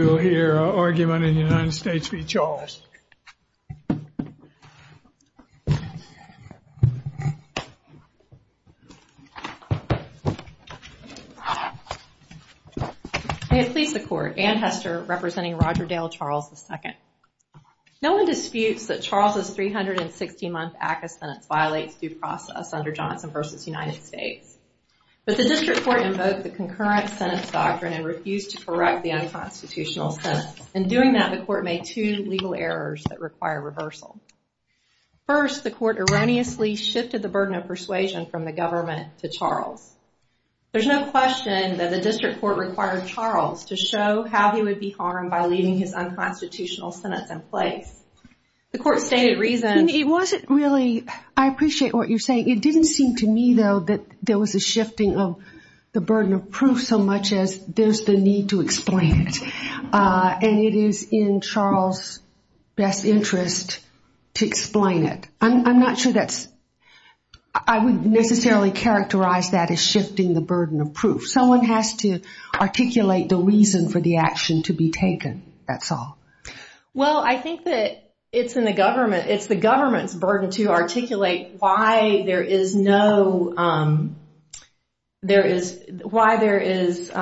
We will hear an argument in the United States v. Charles. May it please the Court, Anne Hester representing Roger Dale Charles, II. No one disputes that Charles' 360-month act of sentence violates due process under Johnson v. United States. But the District Court invoked the concurrent sentence doctrine and refused to correct the unconstitutional sentence. In doing that, the Court made two legal errors that require reversal. First, the Court erroneously shifted the burden of persuasion from the government to Charles. There's no question that the District Court required Charles to show how he would be harmed by leaving his unconstitutional sentence in place. The Court stated reasons... And it wasn't really... I appreciate what you're saying. It didn't seem to me, though, that there was a shifting of the burden of proof so much as there's the need to explain it. And it is in Charles' best interest to explain it. I'm not sure that's... I wouldn't necessarily characterize that as shifting the burden of proof. Someone has to articulate the reason for the action to be taken, that's all. Well, I think that it's in the government. It's the government's burden to articulate why there is no... there is... why there is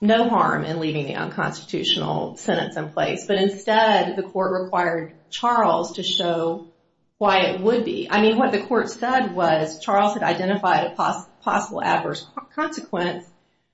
no harm in leaving the unconstitutional sentence in place. But instead, the Court required Charles to show why it would be. I mean, what the Court said was Charles had identified a possible adverse consequence,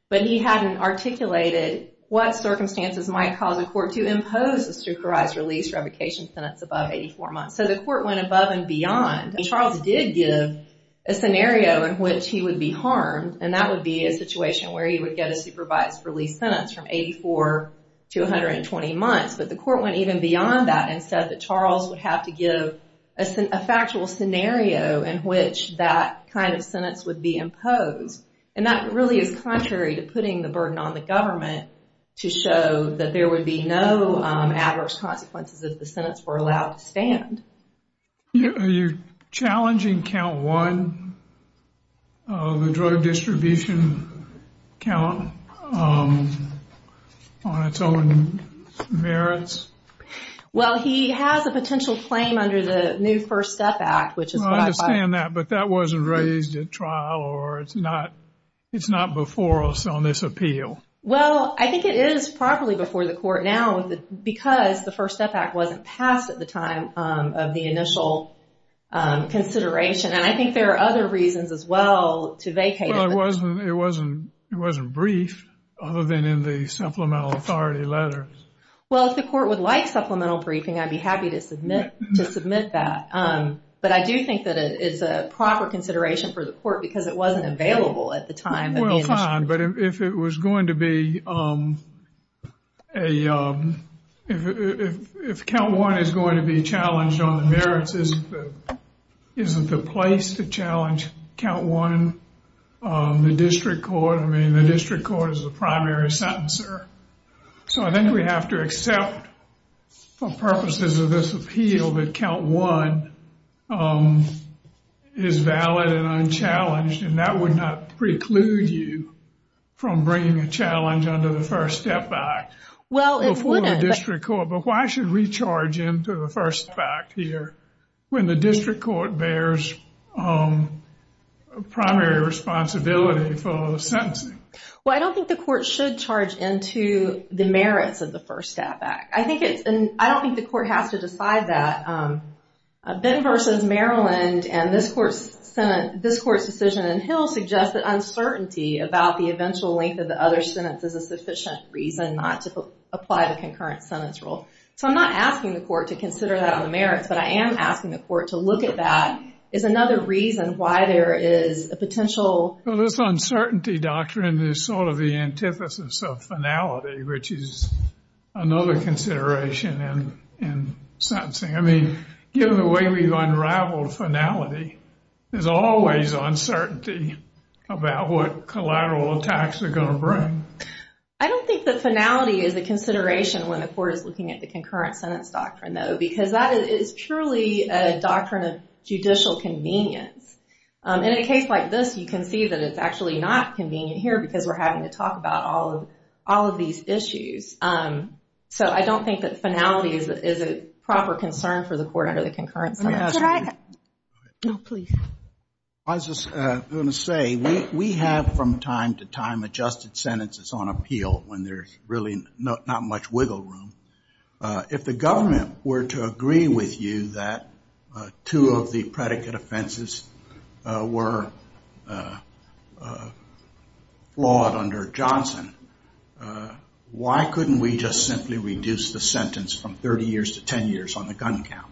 but he hadn't articulated what circumstances might cause a court to impose a supervised release revocation sentence above 84 months. So the Court went above and beyond. Charles did give a scenario in which he would be harmed, and that would be a situation where he would get a supervised release sentence from 84 to 120 months. But the Court went even beyond that and said that Charles would have to give a factual scenario in which that kind of sentence would be imposed. And that really is contrary to putting the burden on the government to show that there would be no adverse consequences if the sentence were allowed to stand. Are you challenging count one of the drug distribution count on its own merits? Well, he has a potential claim under the new First Step Act, which is... I understand that, but that wasn't raised at trial, or it's not before us on this appeal. Well, I think it is properly before the Court now, because the First Step Act wasn't passed at the time of the initial consideration. And I think there are other reasons as well to vacate it. Well, it wasn't briefed, other than in the supplemental authority letters. Well, if the Court would like supplemental briefing, I'd be happy to submit that. But I do think that it's a proper consideration for the Court because it wasn't available at the time. Well, fine, but if it was going to be a... If count one is going to be challenged on the merits, isn't the place to challenge count one? The district court, I mean, the district court is the primary sentencer. So I think we have to accept for purposes of this appeal that count one is valid and unchallenged, and that would not preclude you from bringing a challenge under the First Step Act. Well, it wouldn't. Before the district court, but why should we charge into the First Step Act here when the district court bears primary responsibility for the sentencing? Well, I don't think the Court should charge into the merits of the First Step Act. I don't think the Court has to decide that. Ben v. Maryland and this Court's decision in Hill suggests that uncertainty about the eventual length of the other sentence is a sufficient reason not to apply the concurrent sentence rule. So I'm not asking the Court to consider that on the merits, but I am asking the Court to look at that as another reason why there is a potential... Well, this uncertainty doctrine is sort of the antithesis of finality, which is another consideration in sentencing. I mean, given the way we've unraveled finality, there's always uncertainty about what collateral attacks are going to bring. I don't think that finality is a consideration when the Court is looking at the concurrent sentence doctrine, though, because that is purely a doctrine of judicial convenience. In a case like this, you can see that it's actually not convenient here because we're having to talk about all of these issues. So I don't think that finality is a proper concern for the Court under the concurrent sentence. Let me ask you... No, please. I was just going to say, we have from time to time adjusted sentences on appeal when there's really not much wiggle room. If the government were to agree with you that two of the predicate offenses were flawed under Johnson, why couldn't we just simply reduce the sentence from 30 years to 10 years on the gun count?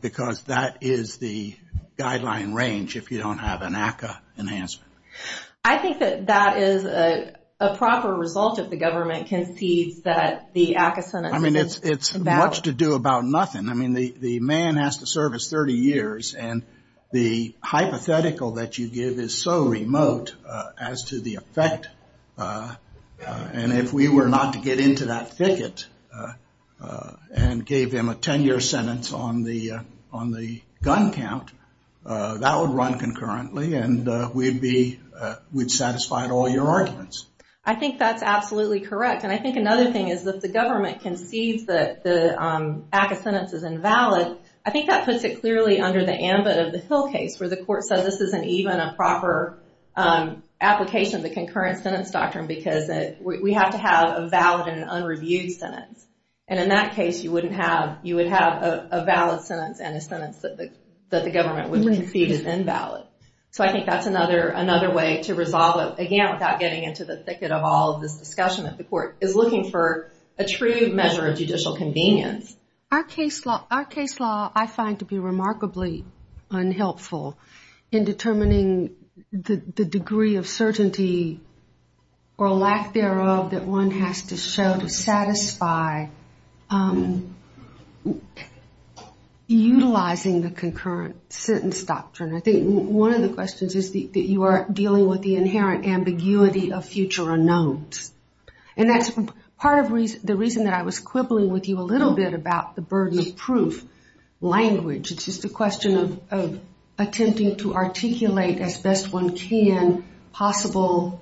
Because that is the guideline range if you don't have an ACCA enhancement. I think that that is a proper result if the government concedes that the ACCA sentence is about... The man has to serve his 30 years, and the hypothetical that you give is so remote as to the effect, and if we were not to get into that thicket and gave him a 10-year sentence on the gun count, that would run concurrently and we'd satisfy all your arguments. I think that's absolutely correct. I think another thing is that if the government concedes that the ACCA sentence is invalid, I think that puts it clearly under the ambit of the Hill case where the Court says this isn't even a proper application of the concurrent sentence doctrine because we have to have a valid and an unreviewed sentence. In that case, you would have a valid sentence and a sentence that the government would concede is invalid. I think that's another way to resolve it, again, without getting into the thicket of all of this discussion that the Court is looking for a true measure of judicial convenience. Our case law, I find to be remarkably unhelpful in determining the degree of certainty or lack thereof that one has to show to satisfy utilizing the concurrent sentence doctrine. I think one of the questions is that you are dealing with the inherent ambiguity of future unknowns. That's part of the reason that I was quibbling with you a little bit about the burden of proof language. It's just a question of attempting to articulate as best one can possible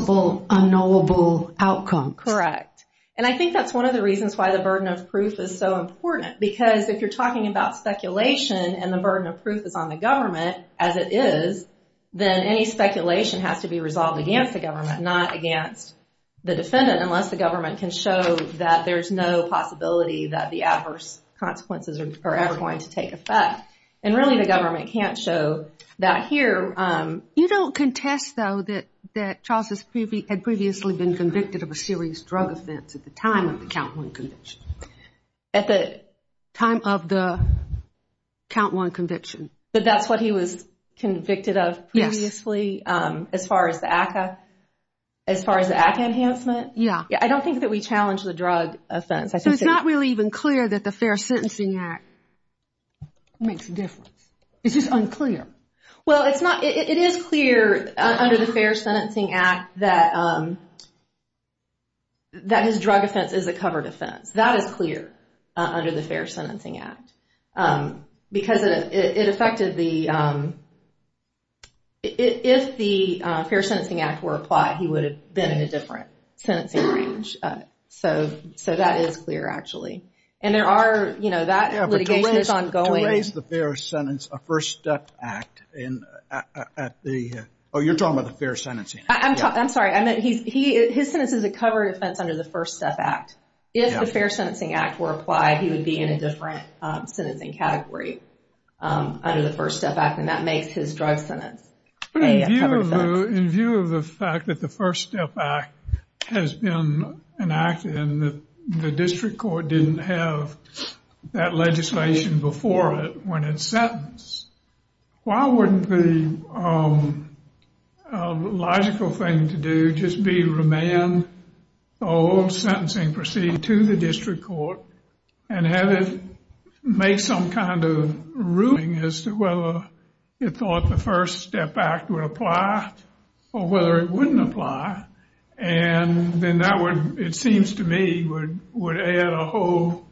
unknowable outcomes. Correct. I think that's one of the reasons why the burden of proof is so important because if you're talking about speculation and the burden of proof is on the government, as it is, then any speculation has to be resolved against the government, not against the defendant, unless the government can show that there's no possibility that the adverse consequences are ever going to take effect. Really, the government can't show that here. You don't contest, though, that Charles had previously been convicted of a serious drug offense at the time of the count one conviction. At the time of the count one conviction. But that's what he was convicted of previously as far as the ACCA enhancement? Yeah. I don't think that we challenge the drug offense. It's not really even clear that the Fair Sentencing Act makes a difference. Is this unclear? Well, it's not. It is clear under the Fair Sentencing Act that his drug offense is a covered offense. That is clear under the Fair Sentencing Act. Because it affected the if the Fair Sentencing Act were applied, he would have been in a different sentencing range. So that is clear, actually. And there are, you know, that litigation is ongoing. Oh, you're talking about the Fair Sentencing Act. I'm sorry. His sentence is a covered offense under the First Step Act. If the Fair Sentencing Act were applied, he would be in a different sentencing category under the First Step Act. And that makes his drug sentence a covered offense. But in view of the fact that the First Step Act has been enacted and the district court didn't have that legislation before it when it's sentenced, why wouldn't the logical thing to do just be remand the whole sentencing proceeding to the district court and have it make some kind of ruling as to whether it thought the First Step Act would apply or whether it wouldn't apply. And then that would, it seems to me, would add a whole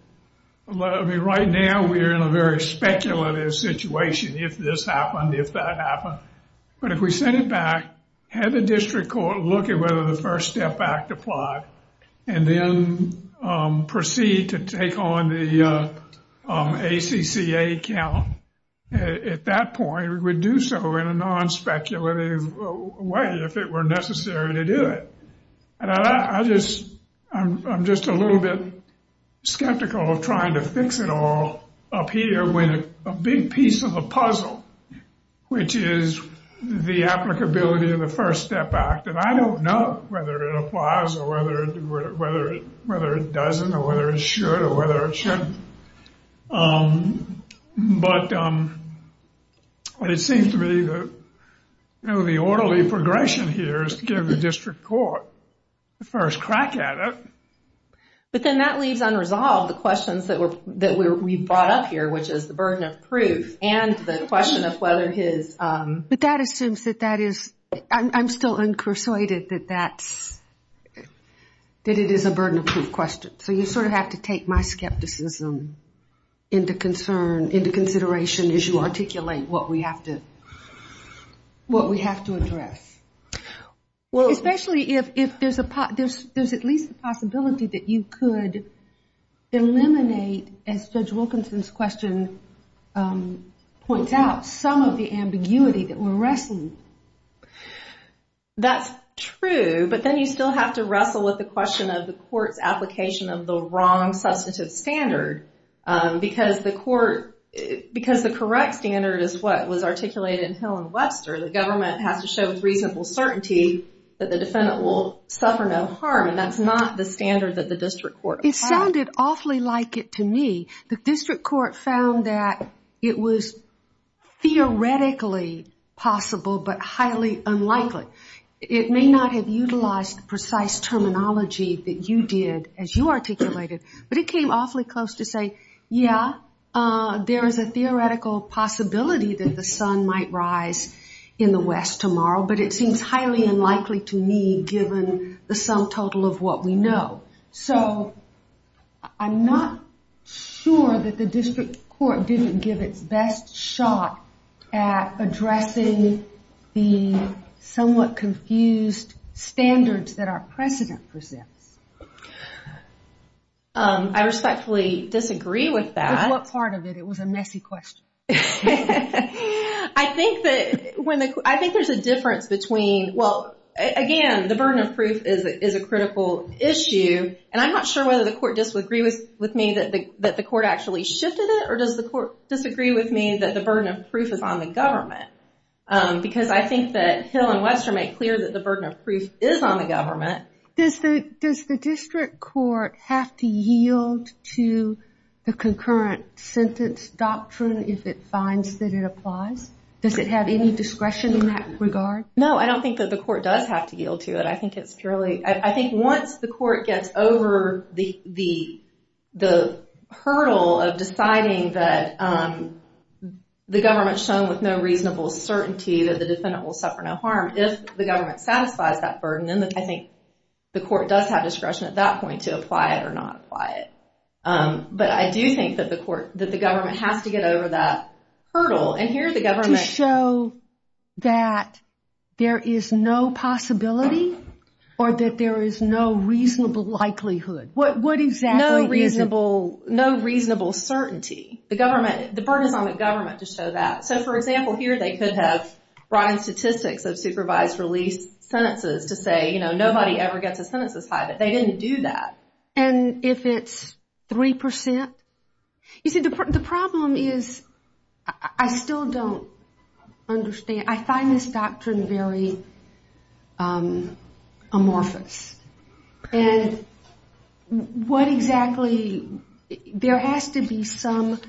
I mean, right now we're in a very speculative situation if this happened, if that happened. But if we sent it back, have the district court look at whether the First Step Act applied, and then proceed to take on the ACCA count, at that point, we would do so in a non-speculative way if it were necessary to do it. And I just, I'm just a little bit skeptical of trying to fix it all up here when a big piece of the puzzle, which is the applicability of the First Step Act. And I don't know whether it applies or whether it doesn't or whether it should or whether it shouldn't. But it seems to me that the orderly progression here is to give the district court the first crack at it. But then that leaves unresolved the questions that we brought up here, which is the burden of proof and the question of whether his... But that assumes that that is, I'm still incursuited that that's, that it is a burden of proof question. So you sort of have to take my skepticism into concern, into consideration as you articulate what we have to, what we have to address. Especially if there's at least a possibility that you could eliminate, as Judge Wilkinson's question points out, some of the ambiguity that we're wrestling. That's true, but then you still have to wrestle with the question of the court's application of the wrong substantive standard. Because the court, because the correct standard is what was articulated in Hill and Webster, the government has to show with reasonable certainty that the defendant will suffer no harm. And that's not the standard that the district court applied. It sounded awfully like it to me. The district court found that it was theoretically possible but highly unlikely. It may not have utilized the precise terminology that you did as you articulated, but it came awfully close to say, yeah, there is a theoretical possibility that the sun might rise in the west tomorrow, but it seems highly unlikely to me given the sum total of what we know. So I'm not sure that the district court didn't give its best shot at addressing the somewhat confused standards that our precedent presents. I respectfully disagree with that. With what part of it? It was a messy question. I think there's a difference between, well, again, the burden of proof is a critical issue, and I'm not sure whether the court disagrees with me that the court actually shifted it, or does the court disagree with me that the burden of proof is on the government? Because I think that Hill and Webster make clear that the burden of proof is on the government. Does the district court have to yield to the concurrent sentence doctrine if it finds that it applies? Does it have any discretion in that regard? No, I don't think that the court does have to yield to it. I think once the court gets over the hurdle of deciding that the government's shown with no reasonable certainty that the defendant will suffer no harm, if the government satisfies that burden, then I think the court does have discretion at that point to apply it or not apply it. But I do think that the government has to get over that hurdle, and here the government... To show that there is no possibility or that there is no reasonable likelihood. What exactly is it? No reasonable certainty. The burden is on the government to show that. So, for example, here they could have brought in statistics of supervised release sentences to say nobody ever gets a sentence as high, but they didn't do that. And if it's 3%? You see, the problem is I still don't understand. I find this doctrine very amorphous. And what exactly... There has to be some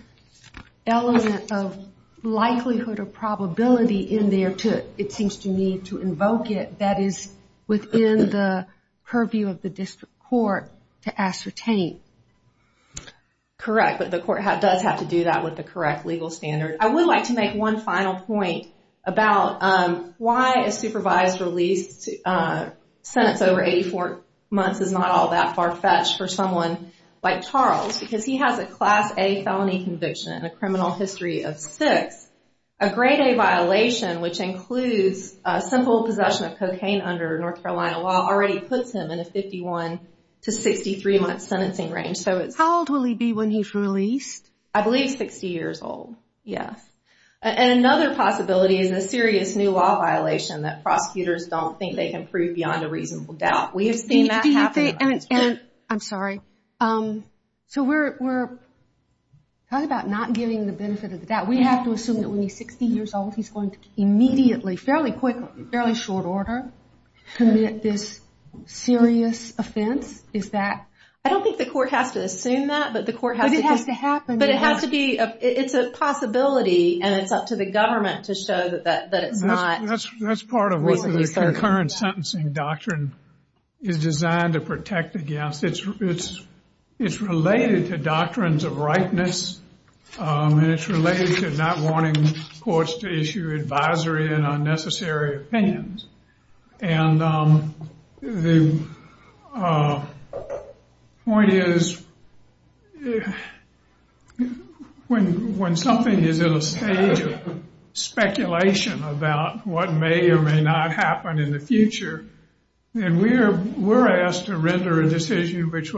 element of likelihood or probability in there, it seems to me, to invoke it that is within the purview of the district court to I would like to make one final point about why a supervised release sentence over 84 months is not all that far-fetched for someone like Charles, because he has a Class A felony conviction and a criminal history of 6. A Grade A violation, which includes simple possession of cocaine under North Carolina law, already puts him in a 51 to 63 month sentencing range. How old will he be when he's released? I believe 60 years old. And another possibility is a serious new law violation that prosecutors don't think they can prove beyond a reasonable doubt. I'm sorry. So we're talking about not giving the benefit of the doubt. We have to assume that when he's 60 years old, he's going to immediately, fairly quickly, fairly short order commit this serious offense? Is that... I don't think the court has to assume that. But it has to happen. But it has to be... It's a possibility and it's up to the government to show that it's not reasonably certain. That's part of what the concurrent sentencing doctrine is designed to protect against. It's related to doctrines of rightness and it's related to not wanting courts to issue advisory and unnecessary opinions. And the point is when something is at a stage of speculation about what may or may not happen in the future, we're asked to render a decision which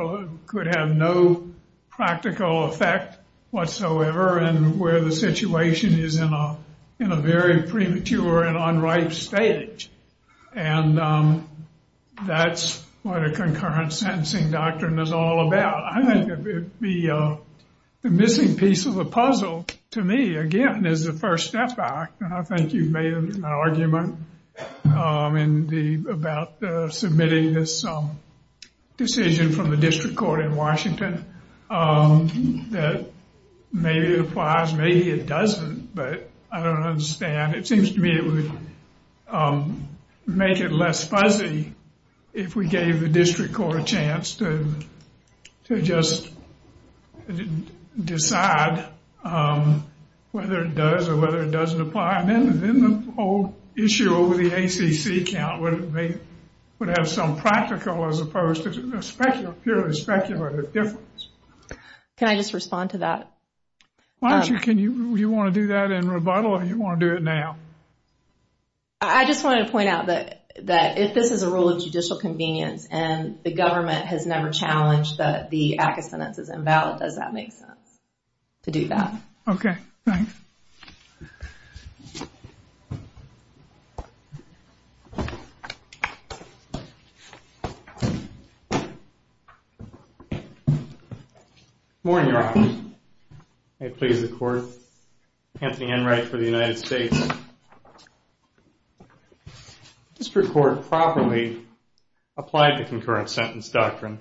could have no practical effect whatsoever and where the situation is in a very premature and unripe stage. And that's what a concurrent sentencing doctrine is all about. The missing piece of the puzzle to me, again, is the First Step Act. And I think you've made an argument about submitting this decision from the district court in Washington that maybe it applies, maybe it doesn't, but I don't understand. It seems to me it would make it less fuzzy if we gave the district court a chance to just decide whether it does or whether it doesn't apply. Then the whole issue over the ACC count would have some practical as opposed to purely speculative difference. Can I just respond to that? Why don't you? Do you want to do that in rebuttal or do you want to do it now? I just wanted to point out that if this is a rule of judicial convenience and the government has never challenged that the act of sentence is invalid, does that make sense to do that? Good morning, Your Honor. May it please the Court. Anthony Enright for the United States. The district court properly applied the concurrent sentence doctrine.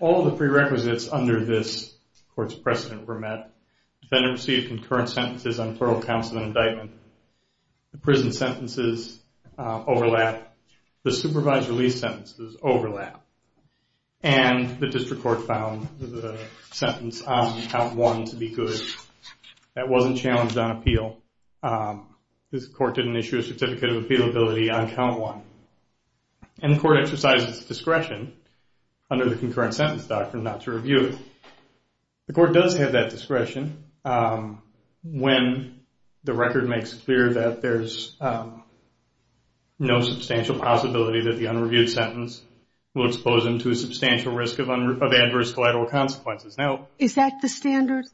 All the prerequisites under this court's precedent were met. Defendant received concurrent sentences on plural counsel and indictment. The prison sentences overlap. The supervised release sentences overlap. And the district court found the sentence on count one to be good. That wasn't challenged on appeal. This court didn't issue a certificate of concurrent sentence doctrine not to review it. The court does have that discretion when the record makes clear that there's no substantial possibility that the unreviewed sentence will expose them to a substantial risk of adverse collateral consequences. Is that the standard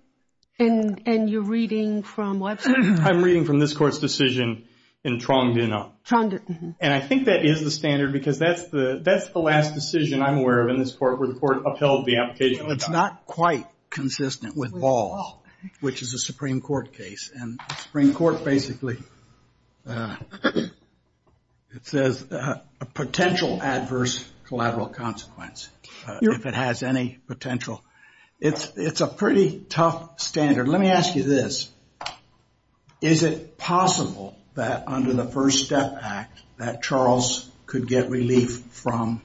in your reading from Webster? I'm reading from this court's decision in Trondino. And I think that is the standard because that's the last decision I'm aware of in this court where the court upheld the application. It's not quite consistent with Ball, which is a Supreme Court case. And the Supreme Court basically says a potential adverse collateral consequence if it has any potential. It's a pretty tough standard. Let me ask you this. Is it possible that under the First Step Act that Charles could get relief from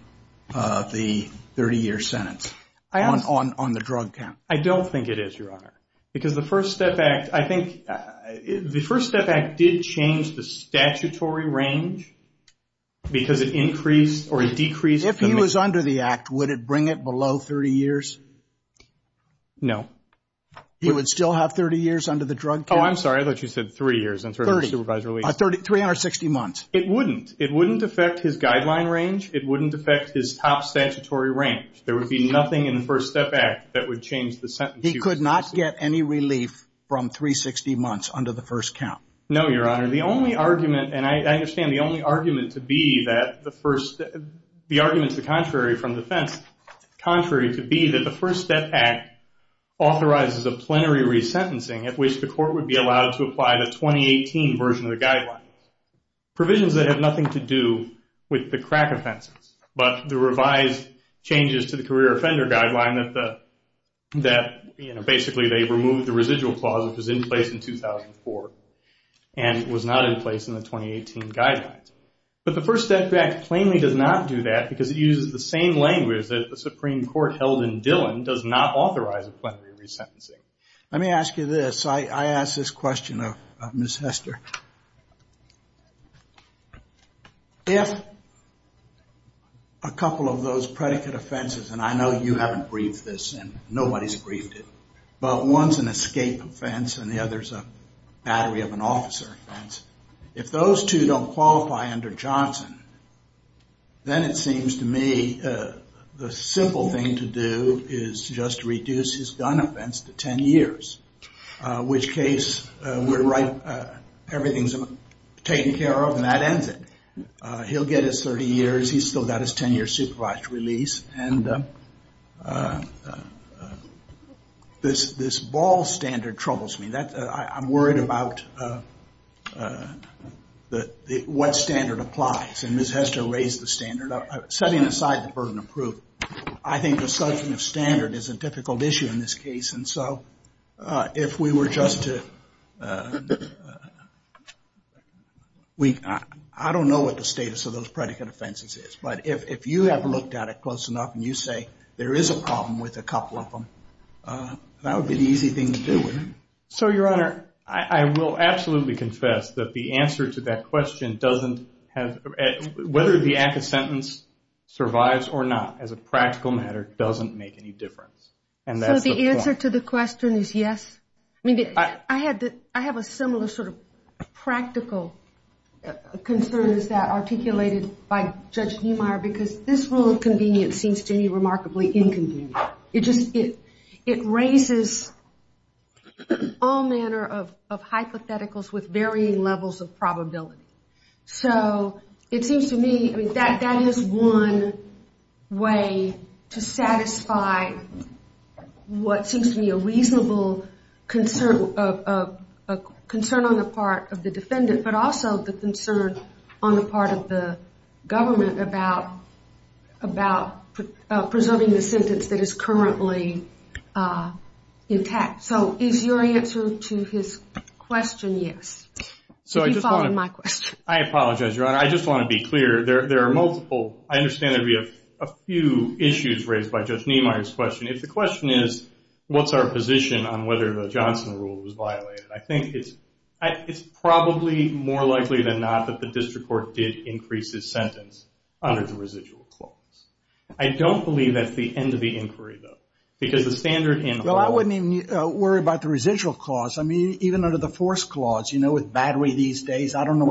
the 30-year sentence on the drug count? I don't think it is, Your Honor. Because the First Step Act, I think the First Step Act did change the statutory range because it increased or it decreased. If he was under the act, would it bring it below 30 years? No. He would still have 30 years under the drug count? Oh, I'm sorry. I thought you said three years. 360 months. It wouldn't. It wouldn't affect his guideline range. It wouldn't affect his top statutory range. There would be nothing in the First Step Act that would change the sentence. He could not get any relief from 360 months under the first count? No, Your Honor. The only argument, and I understand the only argument to be that the argument is the contrary from defense, contrary to be that the First Step Act authorizes a plenary resentencing at which the court would be allowed to apply the 2018 version of the guidelines. Provisions that have nothing to do with the crack offenses. But the revised changes to the career offender guideline that basically they removed the residual clause that was in place in 2004 and was not in place in the 2018 guidelines. But the First Step Act plainly does not do that because it uses the same language that the Supreme Court held in Dillon does not authorize a plenary resentencing. Let me ask you this. I ask this question of Ms. Hester. If I have a couple of those predicate offenses, and I know you haven't briefed this and nobody's briefed it, but one's an escape offense and the other's a battery of an officer offense. If those two don't qualify under Johnson, then it seems to me the simple thing to do is just reduce his gun offense to 10 years, which case we're right. Everything's taken care of and that ends it. He'll get his 30 years. He's still got his 10 years supervised release. This ball standard troubles me. I'm worried about what standard applies. Ms. Hester raised the standard. Setting aside the burden of proof, I think the subject burden of standard is a difficult issue in this case. I don't know what the status of those predicate offenses is, but if you have looked at it close enough and you say there is a problem with a couple of them, that would be the easy thing to do. Your Honor, I will absolutely confess that the answer to that question doesn't have whether the active sentence survives or not as a practical matter doesn't make any difference. The answer to the question is yes. I have a similar sort of practical concern as that articulated by Judge Niemeyer because this rule of convenience seems to me remarkably inconvenient. It raises all manner of hypotheticals with varying levels of probability. That is one way to satisfy what seems to me a reasonable concern on the part of the defendant, but also the concern on the part of the government about preserving the sentence that is a reasonable concern. I understand that we have a few issues raised by Judge Niemeyer's question. If the question is what is our position on whether the Johnson rule was violated, I think it is probably more likely than not that the district court did increase his sentence under the residual clause. I don't believe that is the end of the case. I don't know what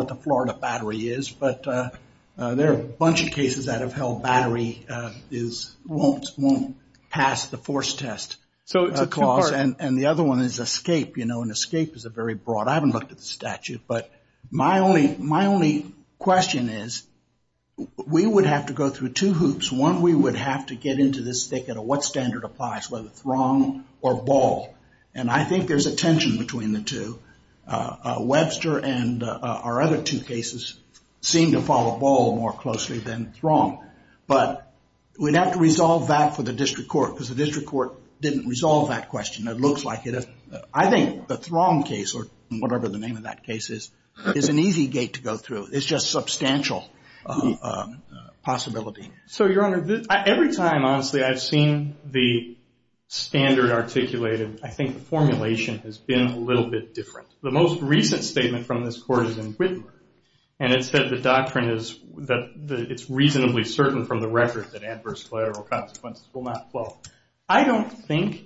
the Florida battery is, but there are a bunch of cases that have held battery won't pass the force test clause. The other one is escape. Escape is very broad. I haven't looked at the statute. My only question is we would have to go through two hoops. One, we would have to get into what standard applies, whether throng or ball. I think there is a tension between the two. Webster and our other two cases seem to follow ball more closely than throng. We would have to resolve that for the district court because the district court didn't resolve that question. I think the throng case, or whatever the name of that case is, is an easy gate to go through. It is just substantial possibility. Every time, honestly, I have seen the standard articulated, I think the formulation has been a little bit different. The most recent statement from this court is in Whitmore. It said the doctrine is reasonably certain from the record that adverse collateral consequences will not flow. I don't think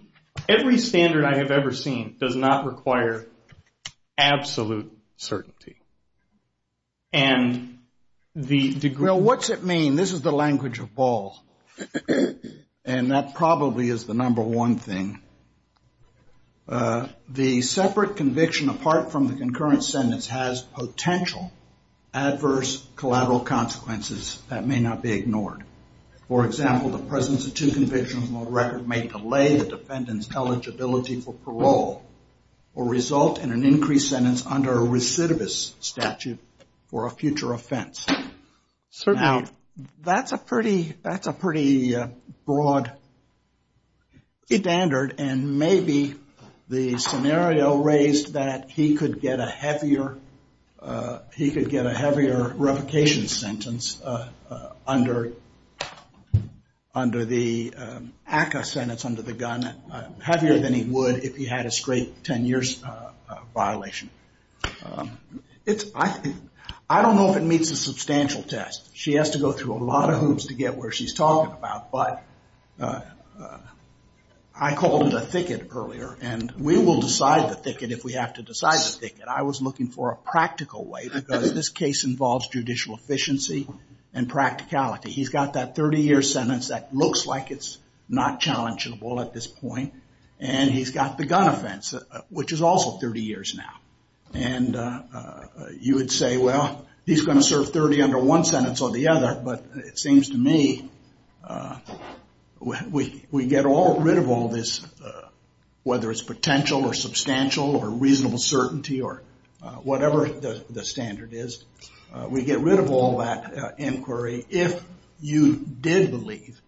every standard I have Well, what's it mean? This is the language of ball. That probably is the number one thing. The separate conviction apart from the concurrent sentence has potential adverse collateral consequences that may not be ignored. For example, the presence of two convictions may delay the defendant's eligibility for a future offense. That's a pretty broad standard and maybe the scenario raised that he could get a heavier revocation sentence under the ACCA sentence under the gun, heavier than he would if he had a straight 10 years violation. I don't know if it meets a substantial test. She has to go through a lot of hoops to get where she's talking about. But I called a thicket earlier and we will decide the thicket if we have to decide the thicket. I was looking for a practical way because this case involves judicial efficiency and practicality. He's got that 30 year sentence that looks like it's not challengeable at this point and he's got the gun offense which is also 30 years now. You would say, well, he's going to serve 30 under one sentence or the other, but it seems to me we get rid of all this, whether it's potential or substantial or reasonable certainty or whatever the standard is. We get rid of all that inquiry if you did believe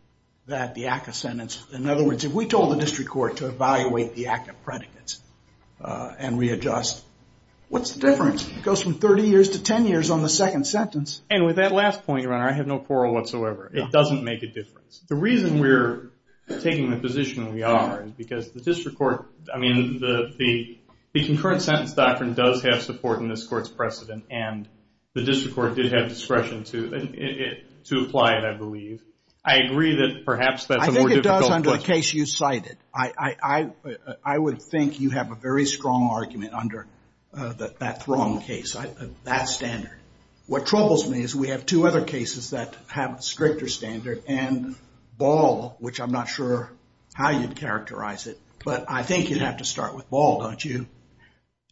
that the ACCA sentence, in other words, if we told the district court to evaluate the ACCA predicates and readjust, what's the difference? It goes from 30 years to 10 years on the second sentence. With that last point, your honor, I have no quarrel whatsoever. It doesn't make a difference. The reason we're taking the position we are is because the district court, I mean, the concurrent sentence doctrine does have support in this court's precedent and the district court did have discretion to apply it, I believe. I agree that perhaps that's a more difficult question. I think it does under the case you cited. I would think you have a very strong argument under that Thrum case, that standard. What troubles me is we have two other cases that have a stricter standard and Ball, which I'm not sure how you'd characterize it, but I think you'd have to start with Ball, don't you?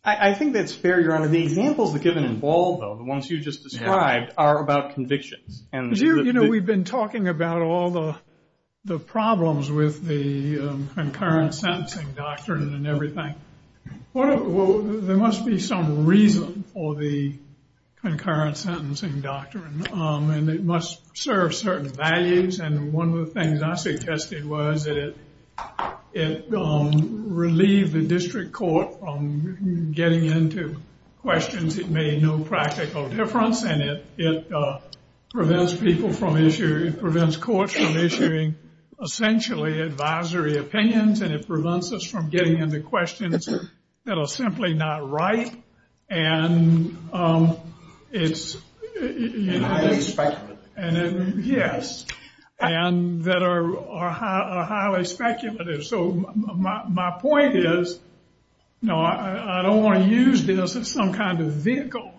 I think that's fair, your honor. The examples given in Ball, though, the ones you just described, are about convictions. You know, we've been talking about all the problems with the concurrent sentencing doctrine and everything. There must be some reason for the serve certain values and one of the things I suggested was that it relieved the district court from getting into questions that made no practical difference and it prevents people from issuing, it prevents courts from issuing essentially advisory opinions and it prevents us from getting into questions that are simply not right and it's highly speculative. Yes, and that are highly speculative. So my point is, no, I don't want to use this as some kind of vehicle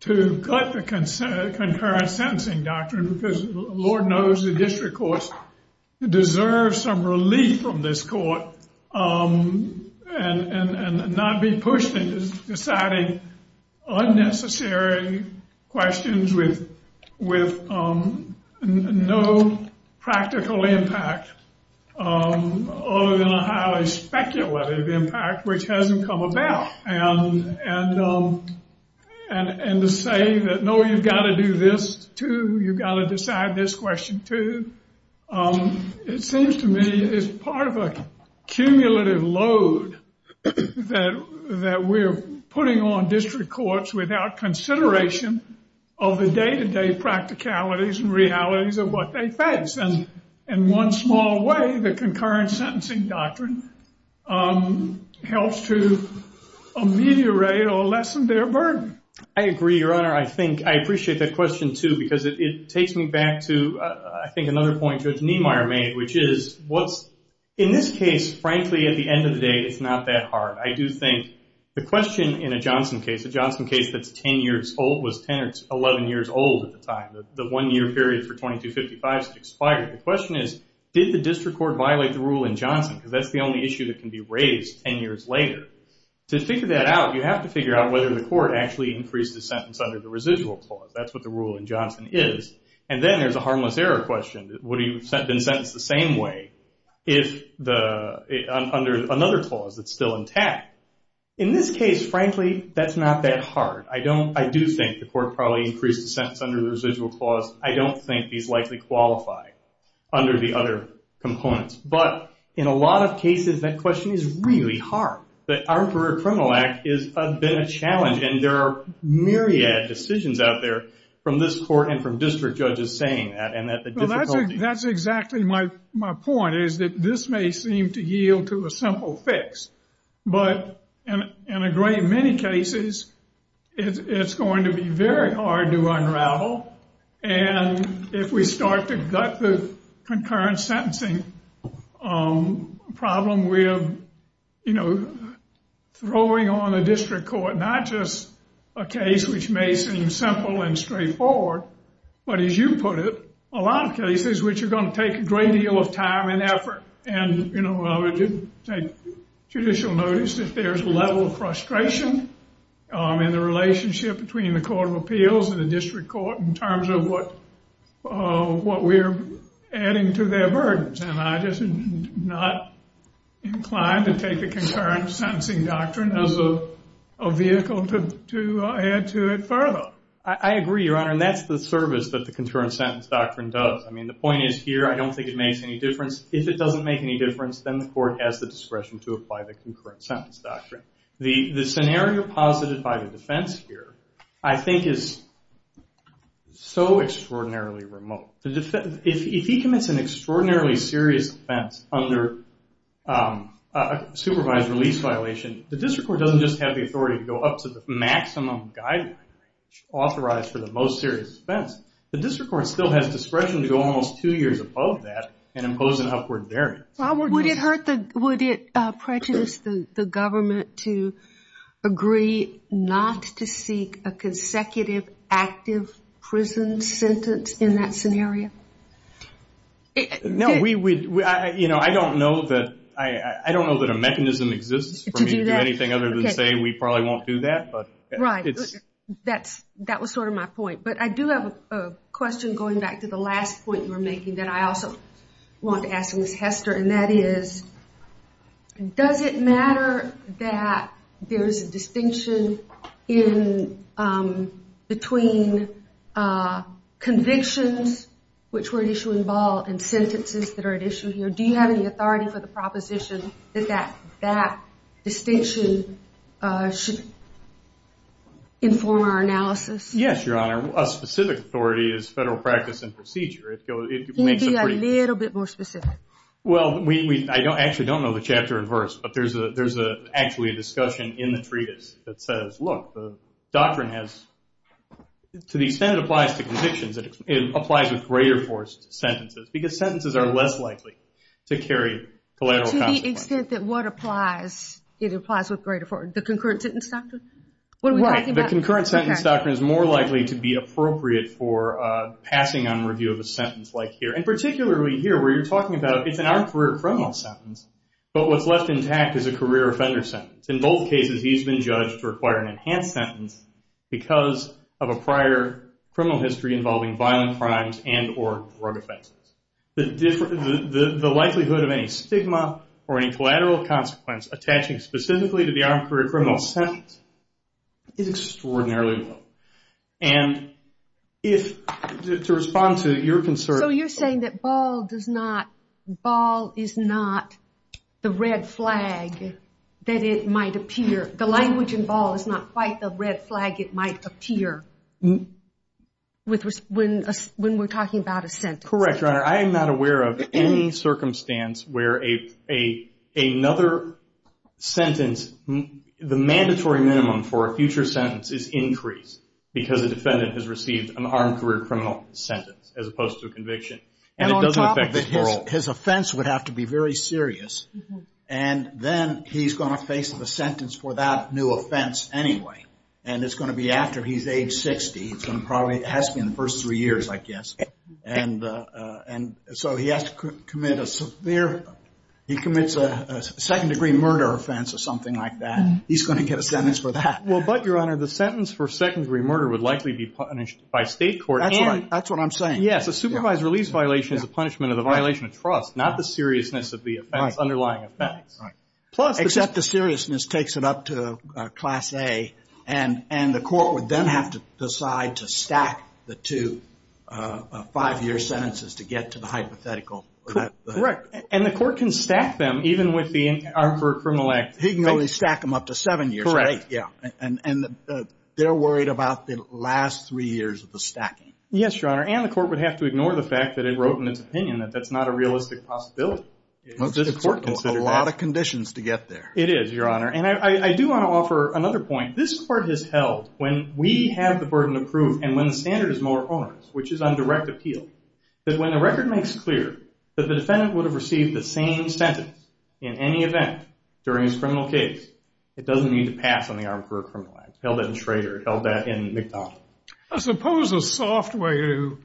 to cut the concurrent sentencing doctrine because Lord knows the district courts deserve some relief from this from deciding unnecessary questions with no practical impact other than a highly speculative impact which hasn't come about and to say that, no, you've got to do this too, you've got to decide this question too, it seems to me that this is part of a cumulative load that we're putting on district courts without consideration of the day-to-day practicalities and realities of what they face and in one small way the concurrent sentencing doctrine helps to ameliorate or lessen their burden. I agree, Your Honor. I think, I appreciate that question too because it takes me back to I think another point Judge Niemeyer made which is what's, in this case, frankly at the end of the day it's not that hard. I do think the question in a Johnson case, a Johnson case that's 10 years old, was 10 or 11 years old at the time, the one year period for 2255 has expired. The question is, did the district court violate the rule in Johnson because that's the only issue that can be raised 10 years later? To figure that out, you have to figure out whether the court actually increased the sentence under the residual clause. That's what the rule in Johnson is and then there's a harmless error question. Would he have been sentenced the same way if the, under another clause that's still intact? In this case, frankly, that's not that hard. I do think the court probably increased the sentence under the residual clause. I don't think these likely qualify under the other components. But, in a lot of cases, that question is really hard. The Armed Career Criminal Act has been a challenge and there are myriad decisions out there from this court and from district judges saying that and that the difficulty... That's exactly my point is that this may seem to yield to a simple fix. But, in a great many cases, it's going to be very hard to unravel and if we start to gut the concurrent sentencing problem, we're throwing on the district court not just a case which may seem simple and straightforward, but as you put it, a lot of cases which are going to take a great deal of time and effort and I would take judicial notice if there's a level of frustration in the relationship between the Court of Appeals and the district court in terms of what we're adding to their burdens. And I'm just not inclined to take the concurrent sentencing doctrine as a vehicle to add to it further. I agree, Your Honor, and that's the service that the court has the discretion to apply the concurrent sentence doctrine. The scenario posited by the defense here, I think, is so extraordinarily remote. If he commits an extraordinarily serious offense under a supervised release violation, the district court doesn't just have the authority to go up to the maximum guideline authorized for the most serious offense. The district court still has discretion to go almost two years above that and impose an upward variance. Would it prejudice the government to agree not to seek a consecutive active prison sentence in that scenario? I don't know that a mechanism exists for me to do anything other than say we probably won't do that. Right. That was sort of my point. But I do have a question going back to the last point you were making that I also want to ask Ms. Hester, and that is does it matter that there is a distinction between convictions which were at issue in Ball and sentences that are at issue here? Do you have any authority for the proposition that that distinction should inform our analysis? Yes, Your Honor. A specific authority is federal practice and procedure. Can you be a little bit more specific? Well, I actually don't know the chapter and verse, but there's actually a discussion in the treatise that says, look, the doctrine has, to the extent it applies to convictions, it applies with greater force sentences because sentences are less likely to carry collateral consequences. To the extent that what applies, it applies with greater force. The concurrent sentence doctrine? Right. The concurrent sentence doctrine is more likely to be appropriate for passing on review of a sentence like here. And particularly here where you're talking about it's an armed career criminal sentence, but what's left intact is a career offender sentence. In both cases, he's been judged to require an enhanced sentence because of a prior criminal history involving violent crimes and or drug offenses. The likelihood of any stigma or any collateral consequence attaching specifically to the armed career criminal sentence is extraordinarily low. And to respond to your concern... So you're saying that Ball is not the red flag that it might appear? The language in Ball is not quite the red flag it might appear when we're talking about a sentence? Correct, Your Honor. I am not aware of any circumstance where another sentence, the mandatory minimum for a future sentence is increased because a defendant has received an armed career criminal sentence as opposed to a conviction. And on top of it, his offense would have to be very serious. And then he's going to face the sentence for that new offense anyway. And it's going to be after he's age 60. It has to be in the first three years, I guess. And so he has to commit a severe, he commits a second degree murder offense or something like that. He's going to get a sentence for that. Well, but Your Honor, the sentence for second degree murder would likely be punished by state court. That's what I'm saying. Yes, a supervised release violation is a punishment of the violation of trust, not the seriousness of the underlying offense. Except the seriousness takes it up to Class A and the court would then have to decide to stack the two five year sentences to get to the hypothetical. Correct. And the court can stack them even with the armed career criminal act. He can only stack them up to seven years. Correct. And they're worried about the last three years of the stacking. Yes, Your Honor. And the court would have to ignore the fact that it wrote in its opinion that that's not a realistic possibility. A lot of conditions to get there. It is, Your Honor. And I do want to offer another point. This court has held when we have the burden of proof and when the standard is more or less, which is on direct appeal, that when the record makes clear that the defendant would have received the same sentence in any event during his criminal case, it doesn't need to pass on the armed career criminal act. Held that in Schrader. Held that in McDonald. I suppose a soft way to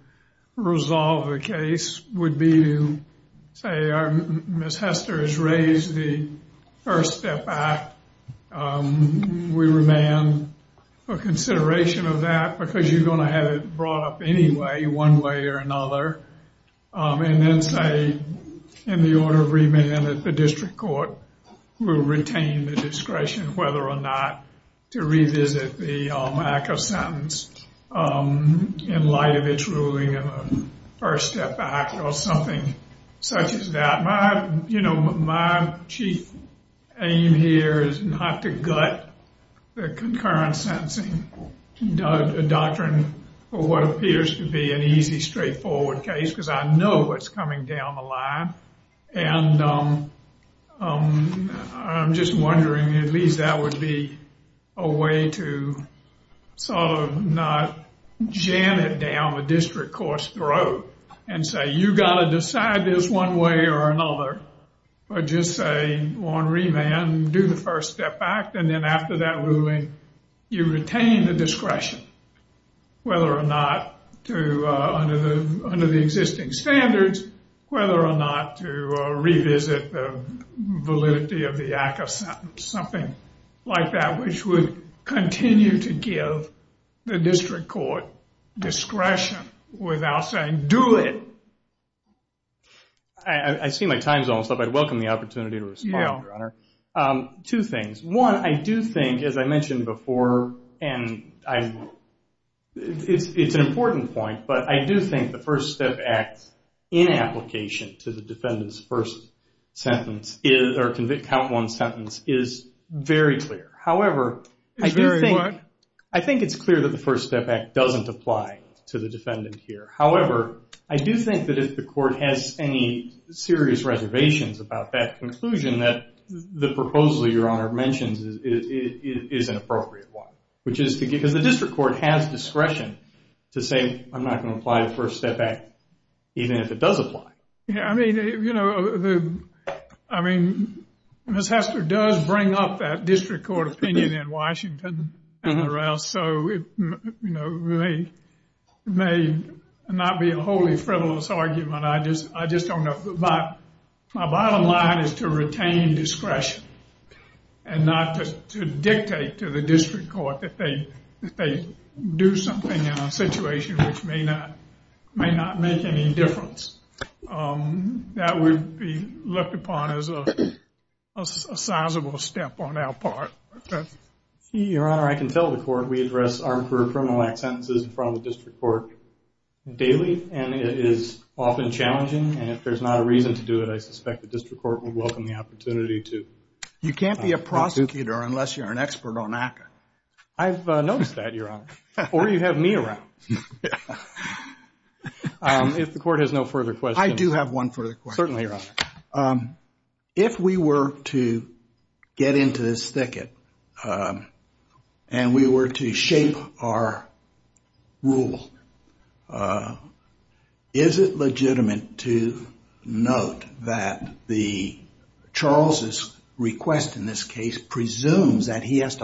resolve the case would be to say, Miss Hester has raised the First Step Act. We demand a consideration of that because you're going to have it brought up anyway, one way or another. And then say in the order of remand that the district court will retain the discretion whether or not to revisit the ACCA sentence in light of its ruling in the First Step Act or something such as that. My chief aim here is not to gut the concurrent sentencing doctrine for what appears to be an easy, straightforward case because I know what's coming down the line. And I'm just wondering, at least that would be a way to sort of not jam it down the district court's throat and say, you've got to decide this one way or another or just say on remand, do the First Step Act. And then after that ruling, you retain the discretion whether or not to under the existing standards, whether or not to revisit the validity of the ACCA sentence, something like that, which would continue to give the district court discretion without saying, do it. I see my time's almost up. I'd welcome the opportunity to respond, Your Honor. Two things. One, I do think, as I mentioned before, it's an important point, but I do think the First Step Act in application to the defendant's first sentence or count one sentence is very clear. However, I do think it's clear that the First Step Act doesn't apply to the defendant here. However, I do think that if the court has any serious reservations about that conclusion, that the proposal Your Honor mentions is an appropriate one. Because the district court has discretion to say, I'm not going to apply the First Step Act even if it does apply. Yeah, I mean, you know, I mean, Ms. Hester does bring up that district court opinion in Washington and the rest, so it may not be a wholly frivolous argument. I just don't know. My bottom line is to retain discretion and not to dictate to the district court that they do something in a situation which may not make any difference. That would be looked upon as a sizable step on our part. Your Honor, I can tell the court we address armed career criminal act sentences in front of the district court daily and it is often challenging and if there's not a reason to do it, I suspect the district court would welcome the opportunity to. You can't be a prosecutor unless you're an expert on ACCA. I've noticed that, Your Honor. Or you have me around. If the court has no further questions. I do have one further question. Certainly, Your Honor. If we were to get into this thicket and we were to shape our rule, is it appropriate to presume that somebody is going to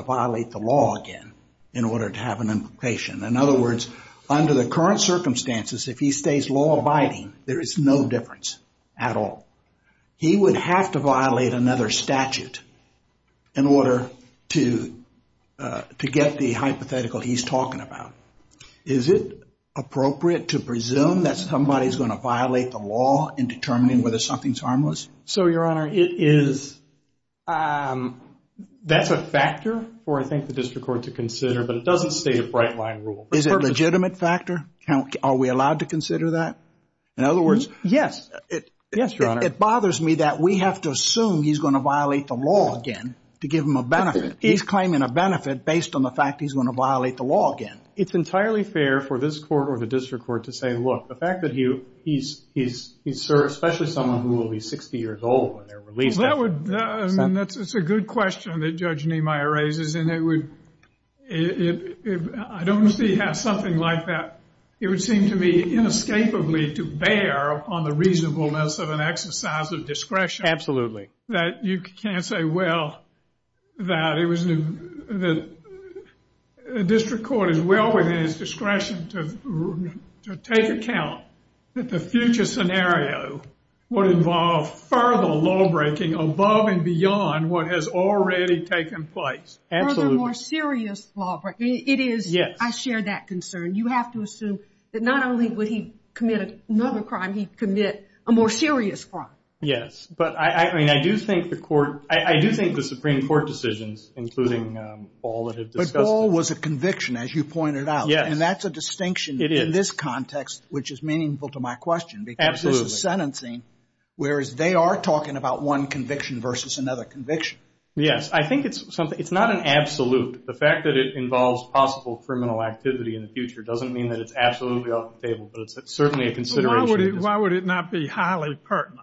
violate the law again in order to have an implication? In other words, under the current circumstances, if he stays law-abiding, there's no difference at all. He would have to violate another statute in order to have an implication. That's a factor for, I think, the district court to consider, but it doesn't state a bright-line rule. Is it a legitimate factor? Are we allowed to consider that? In other words, yes. Yes, Your Honor. It bothers me that we have to assume he's going to violate the law again to give him a benefit. He's claiming a benefit based on the fact he's going to violate the law again. And that's a good question that Judge Niemeyer raises. I don't see how something like that, it would seem to me inescapably to bear on the reasonableness of an exercise of discretion. Absolutely. That you can't say, well, that the district court is well within its discretion to take account that the future scenario would involve further law-breaking above and beyond what has already taken place. Further more serious law-breaking. It is. I share that concern. You have to assume that not only would he commit another crime, he'd commit a more serious crime. Yes, but I do think the Supreme Court decisions, including all that have been discussed. But all was a conviction, as you pointed out. And that's a distinction in this context, which is meaningful to my question. Because this is sentencing, whereas they are talking about one conviction versus another conviction. Yes, I think it's not an absolute. The fact that it involves possible criminal activity in the future doesn't mean that it's absolutely off the table, but it's certainly a consideration. Why would it not be highly pertinent?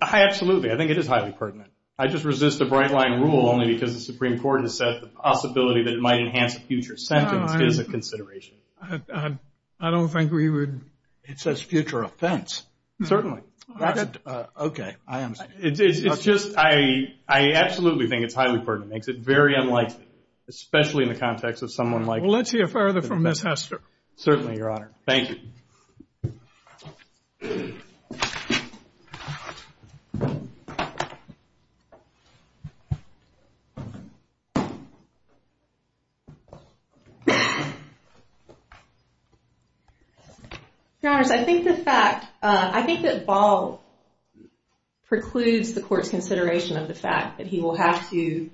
Absolutely. I think it is highly pertinent. I just resist the bright-line rule only because the Supreme Court has said the possibility that it might enhance a future sentence is a consideration. I don't think we would... It says future offense. Certainly. I absolutely think it's highly pertinent. It makes it very unlikely, especially in the context of someone like... Let's hear further from Ms. Hester. Your Honors, I think the fact... I think that Ball precludes the Court's consideration of the fact that he will have to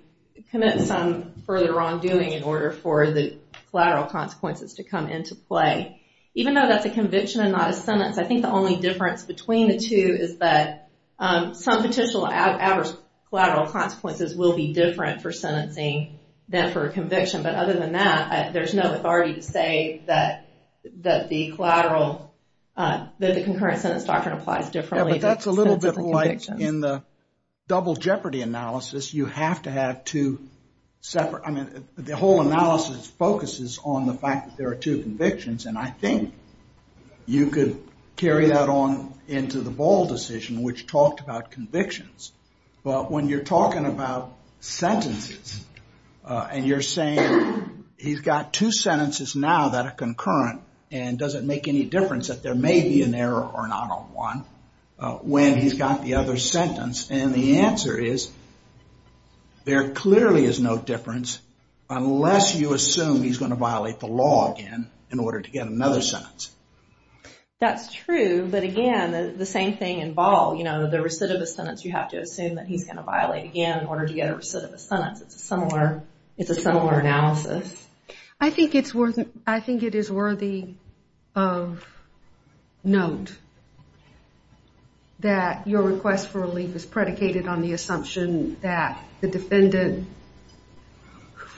commit some further wrongdoing in order for the collateral consequences to come into play. Even though that's a conviction and not a sentence, I think the only difference between the two is that some potential adverse collateral consequences will be different for sentencing than for a conviction. But other than that, there's no authority to say that the collateral... That the concurrent sentence doctrine applies differently. Yeah, but that's a little bit like in the double jeopardy analysis. You have to have two separate... I mean, the whole analysis focuses on the fact that there are two convictions, and I think you could carry that on into the Ball decision, which talked about convictions. But when you're talking about sentences and you're saying, he's got two sentences now that are concurrent, and does it make any difference that there may be an error or not on one when he's got the other sentence? And the answer is, there clearly is no difference unless you assume he's going to violate the law again in order to get another sentence. That's true, but again, the same thing in Ball. The recidivist sentence, you have to assume that he's going to violate again in order to get a recidivist sentence. It's a similar analysis. I think it is worthy of note that your request for relief is predicated on the assumption that the defendant,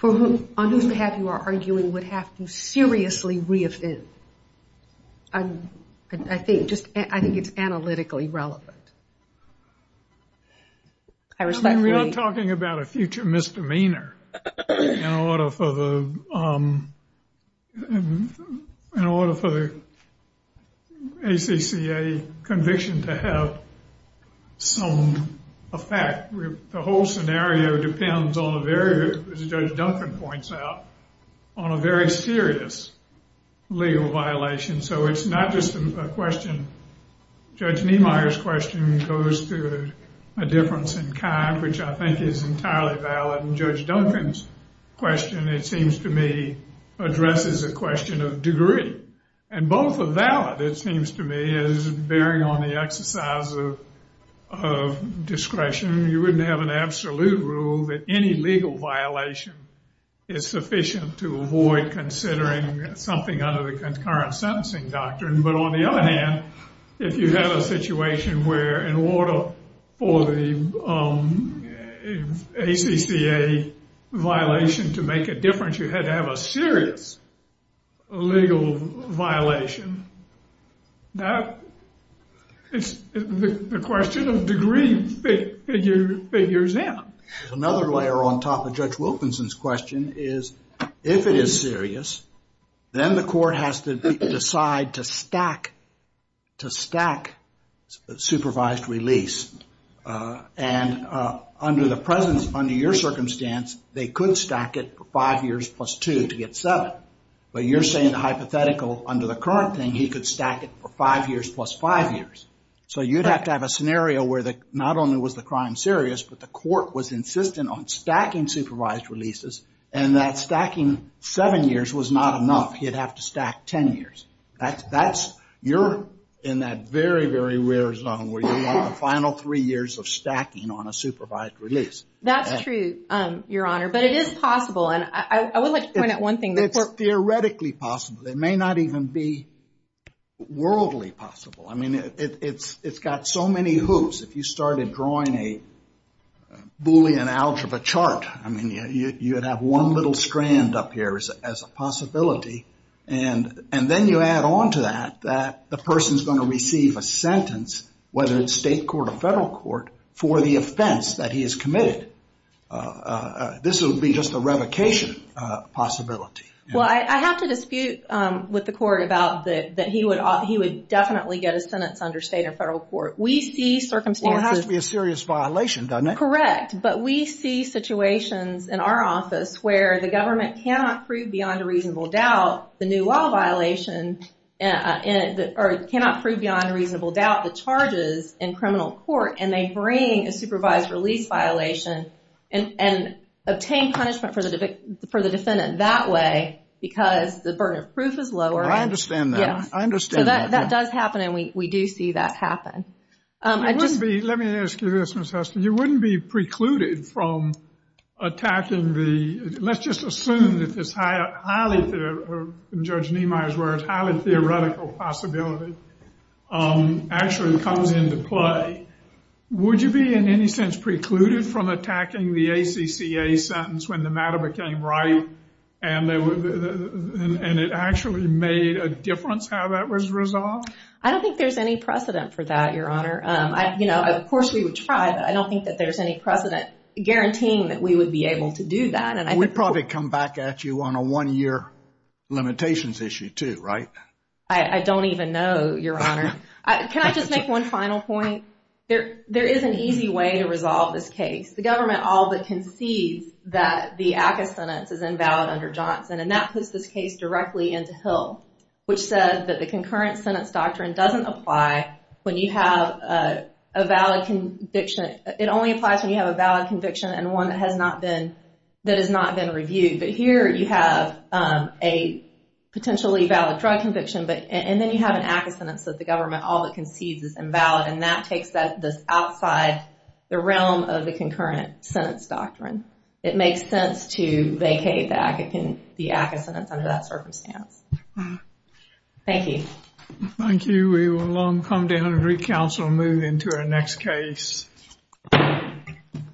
on whose behalf you are arguing, would have to seriously reoffend. I think it's analytically relevant. We're not talking about a future misdemeanor in order for the ACCA conviction to have some effect. The whole scenario depends on a very, as Judge Duncan points out, on a very serious legal violation. Judge Niemeyer's question goes to a difference in kind, which I think is entirely valid. And Judge Duncan's question, it seems to me, addresses a question of degree. And both are valid, it seems to me, as bearing on the exercise of discretion. You wouldn't have an absolute rule that any legal violation is sufficient to avoid considering something under the concurrent sentencing doctrine. But on the other hand, if you have a situation where in order for the ACCA violation to make a difference, you had to have a serious legal violation. That is the question of degree figures in. Another layer on top of Judge Wilkinson's question is if it is serious, then the court has to decide to stack supervised release. And under the presence, under your circumstance, they could stack it for five years plus two to get seven. But you're saying the hypothetical under the current thing, he could stack it for five years plus five years. So you'd have to have a scenario where not only was the crime serious, but the court was insistent on stacking supervised releases. And that stacking seven years was not enough, he'd have to stack ten years. You're in that very, very rare zone where you want the final three years of stacking on a supervised release. That's true, Your Honor, but it is possible. And I would like to point out one thing. It's theoretically possible. It may not even be worldly possible. I mean, it's got so many hoops. If you started drawing a Boolean algebra chart, I mean, you would have one little strand up here as a possibility. And then you add on to that, that the person is going to receive a sentence, whether it's state court or federal court, for the offense that he has committed. This would be just a revocation possibility. Well, I have to dispute with the court about that he would definitely get a sentence under state or federal court. We see circumstances. Well, it has to be a serious violation, doesn't it? Correct, but we see situations in our office where the government cannot prove beyond a reasonable doubt the new law violation, or cannot prove beyond a reasonable doubt the charges in criminal court, and they bring a supervised release violation and obtain punishment for the defendant that way, because the burden of proof is lower. I understand that. Let me ask you this, Ms. Hester. You wouldn't be precluded from attacking the, let's just assume that this highly, in Judge Niemeyer's words, highly theoretical possibility actually comes into play. Would you be in any sense precluded from attacking the ACCA sentence when the matter became right, and it actually made a difference how that was resolved? I don't think there's any precedent for that, Your Honor. Of course we would try, but I don't think that there's any precedent guaranteeing that we would be able to do that. We'd probably come back at you on a one-year limitations issue, too, right? I don't even know, Your Honor. Can I just make one final point? There is an easy way to resolve this case. The government all but concedes that the ACCA sentence is invalid under Johnson, and that puts this case directly into Hill, which says that the concurrent sentence doctrine doesn't apply when you have a valid conviction. It only applies when you have a valid conviction and one that has not been reviewed. But here you have a potentially valid drug conviction, and then you have an ACCA sentence that the government all but concedes is invalid, and that takes this outside the realm of the concurrent sentence doctrine. It makes sense to vacate the ACCA sentence under that circumstance. Thank you.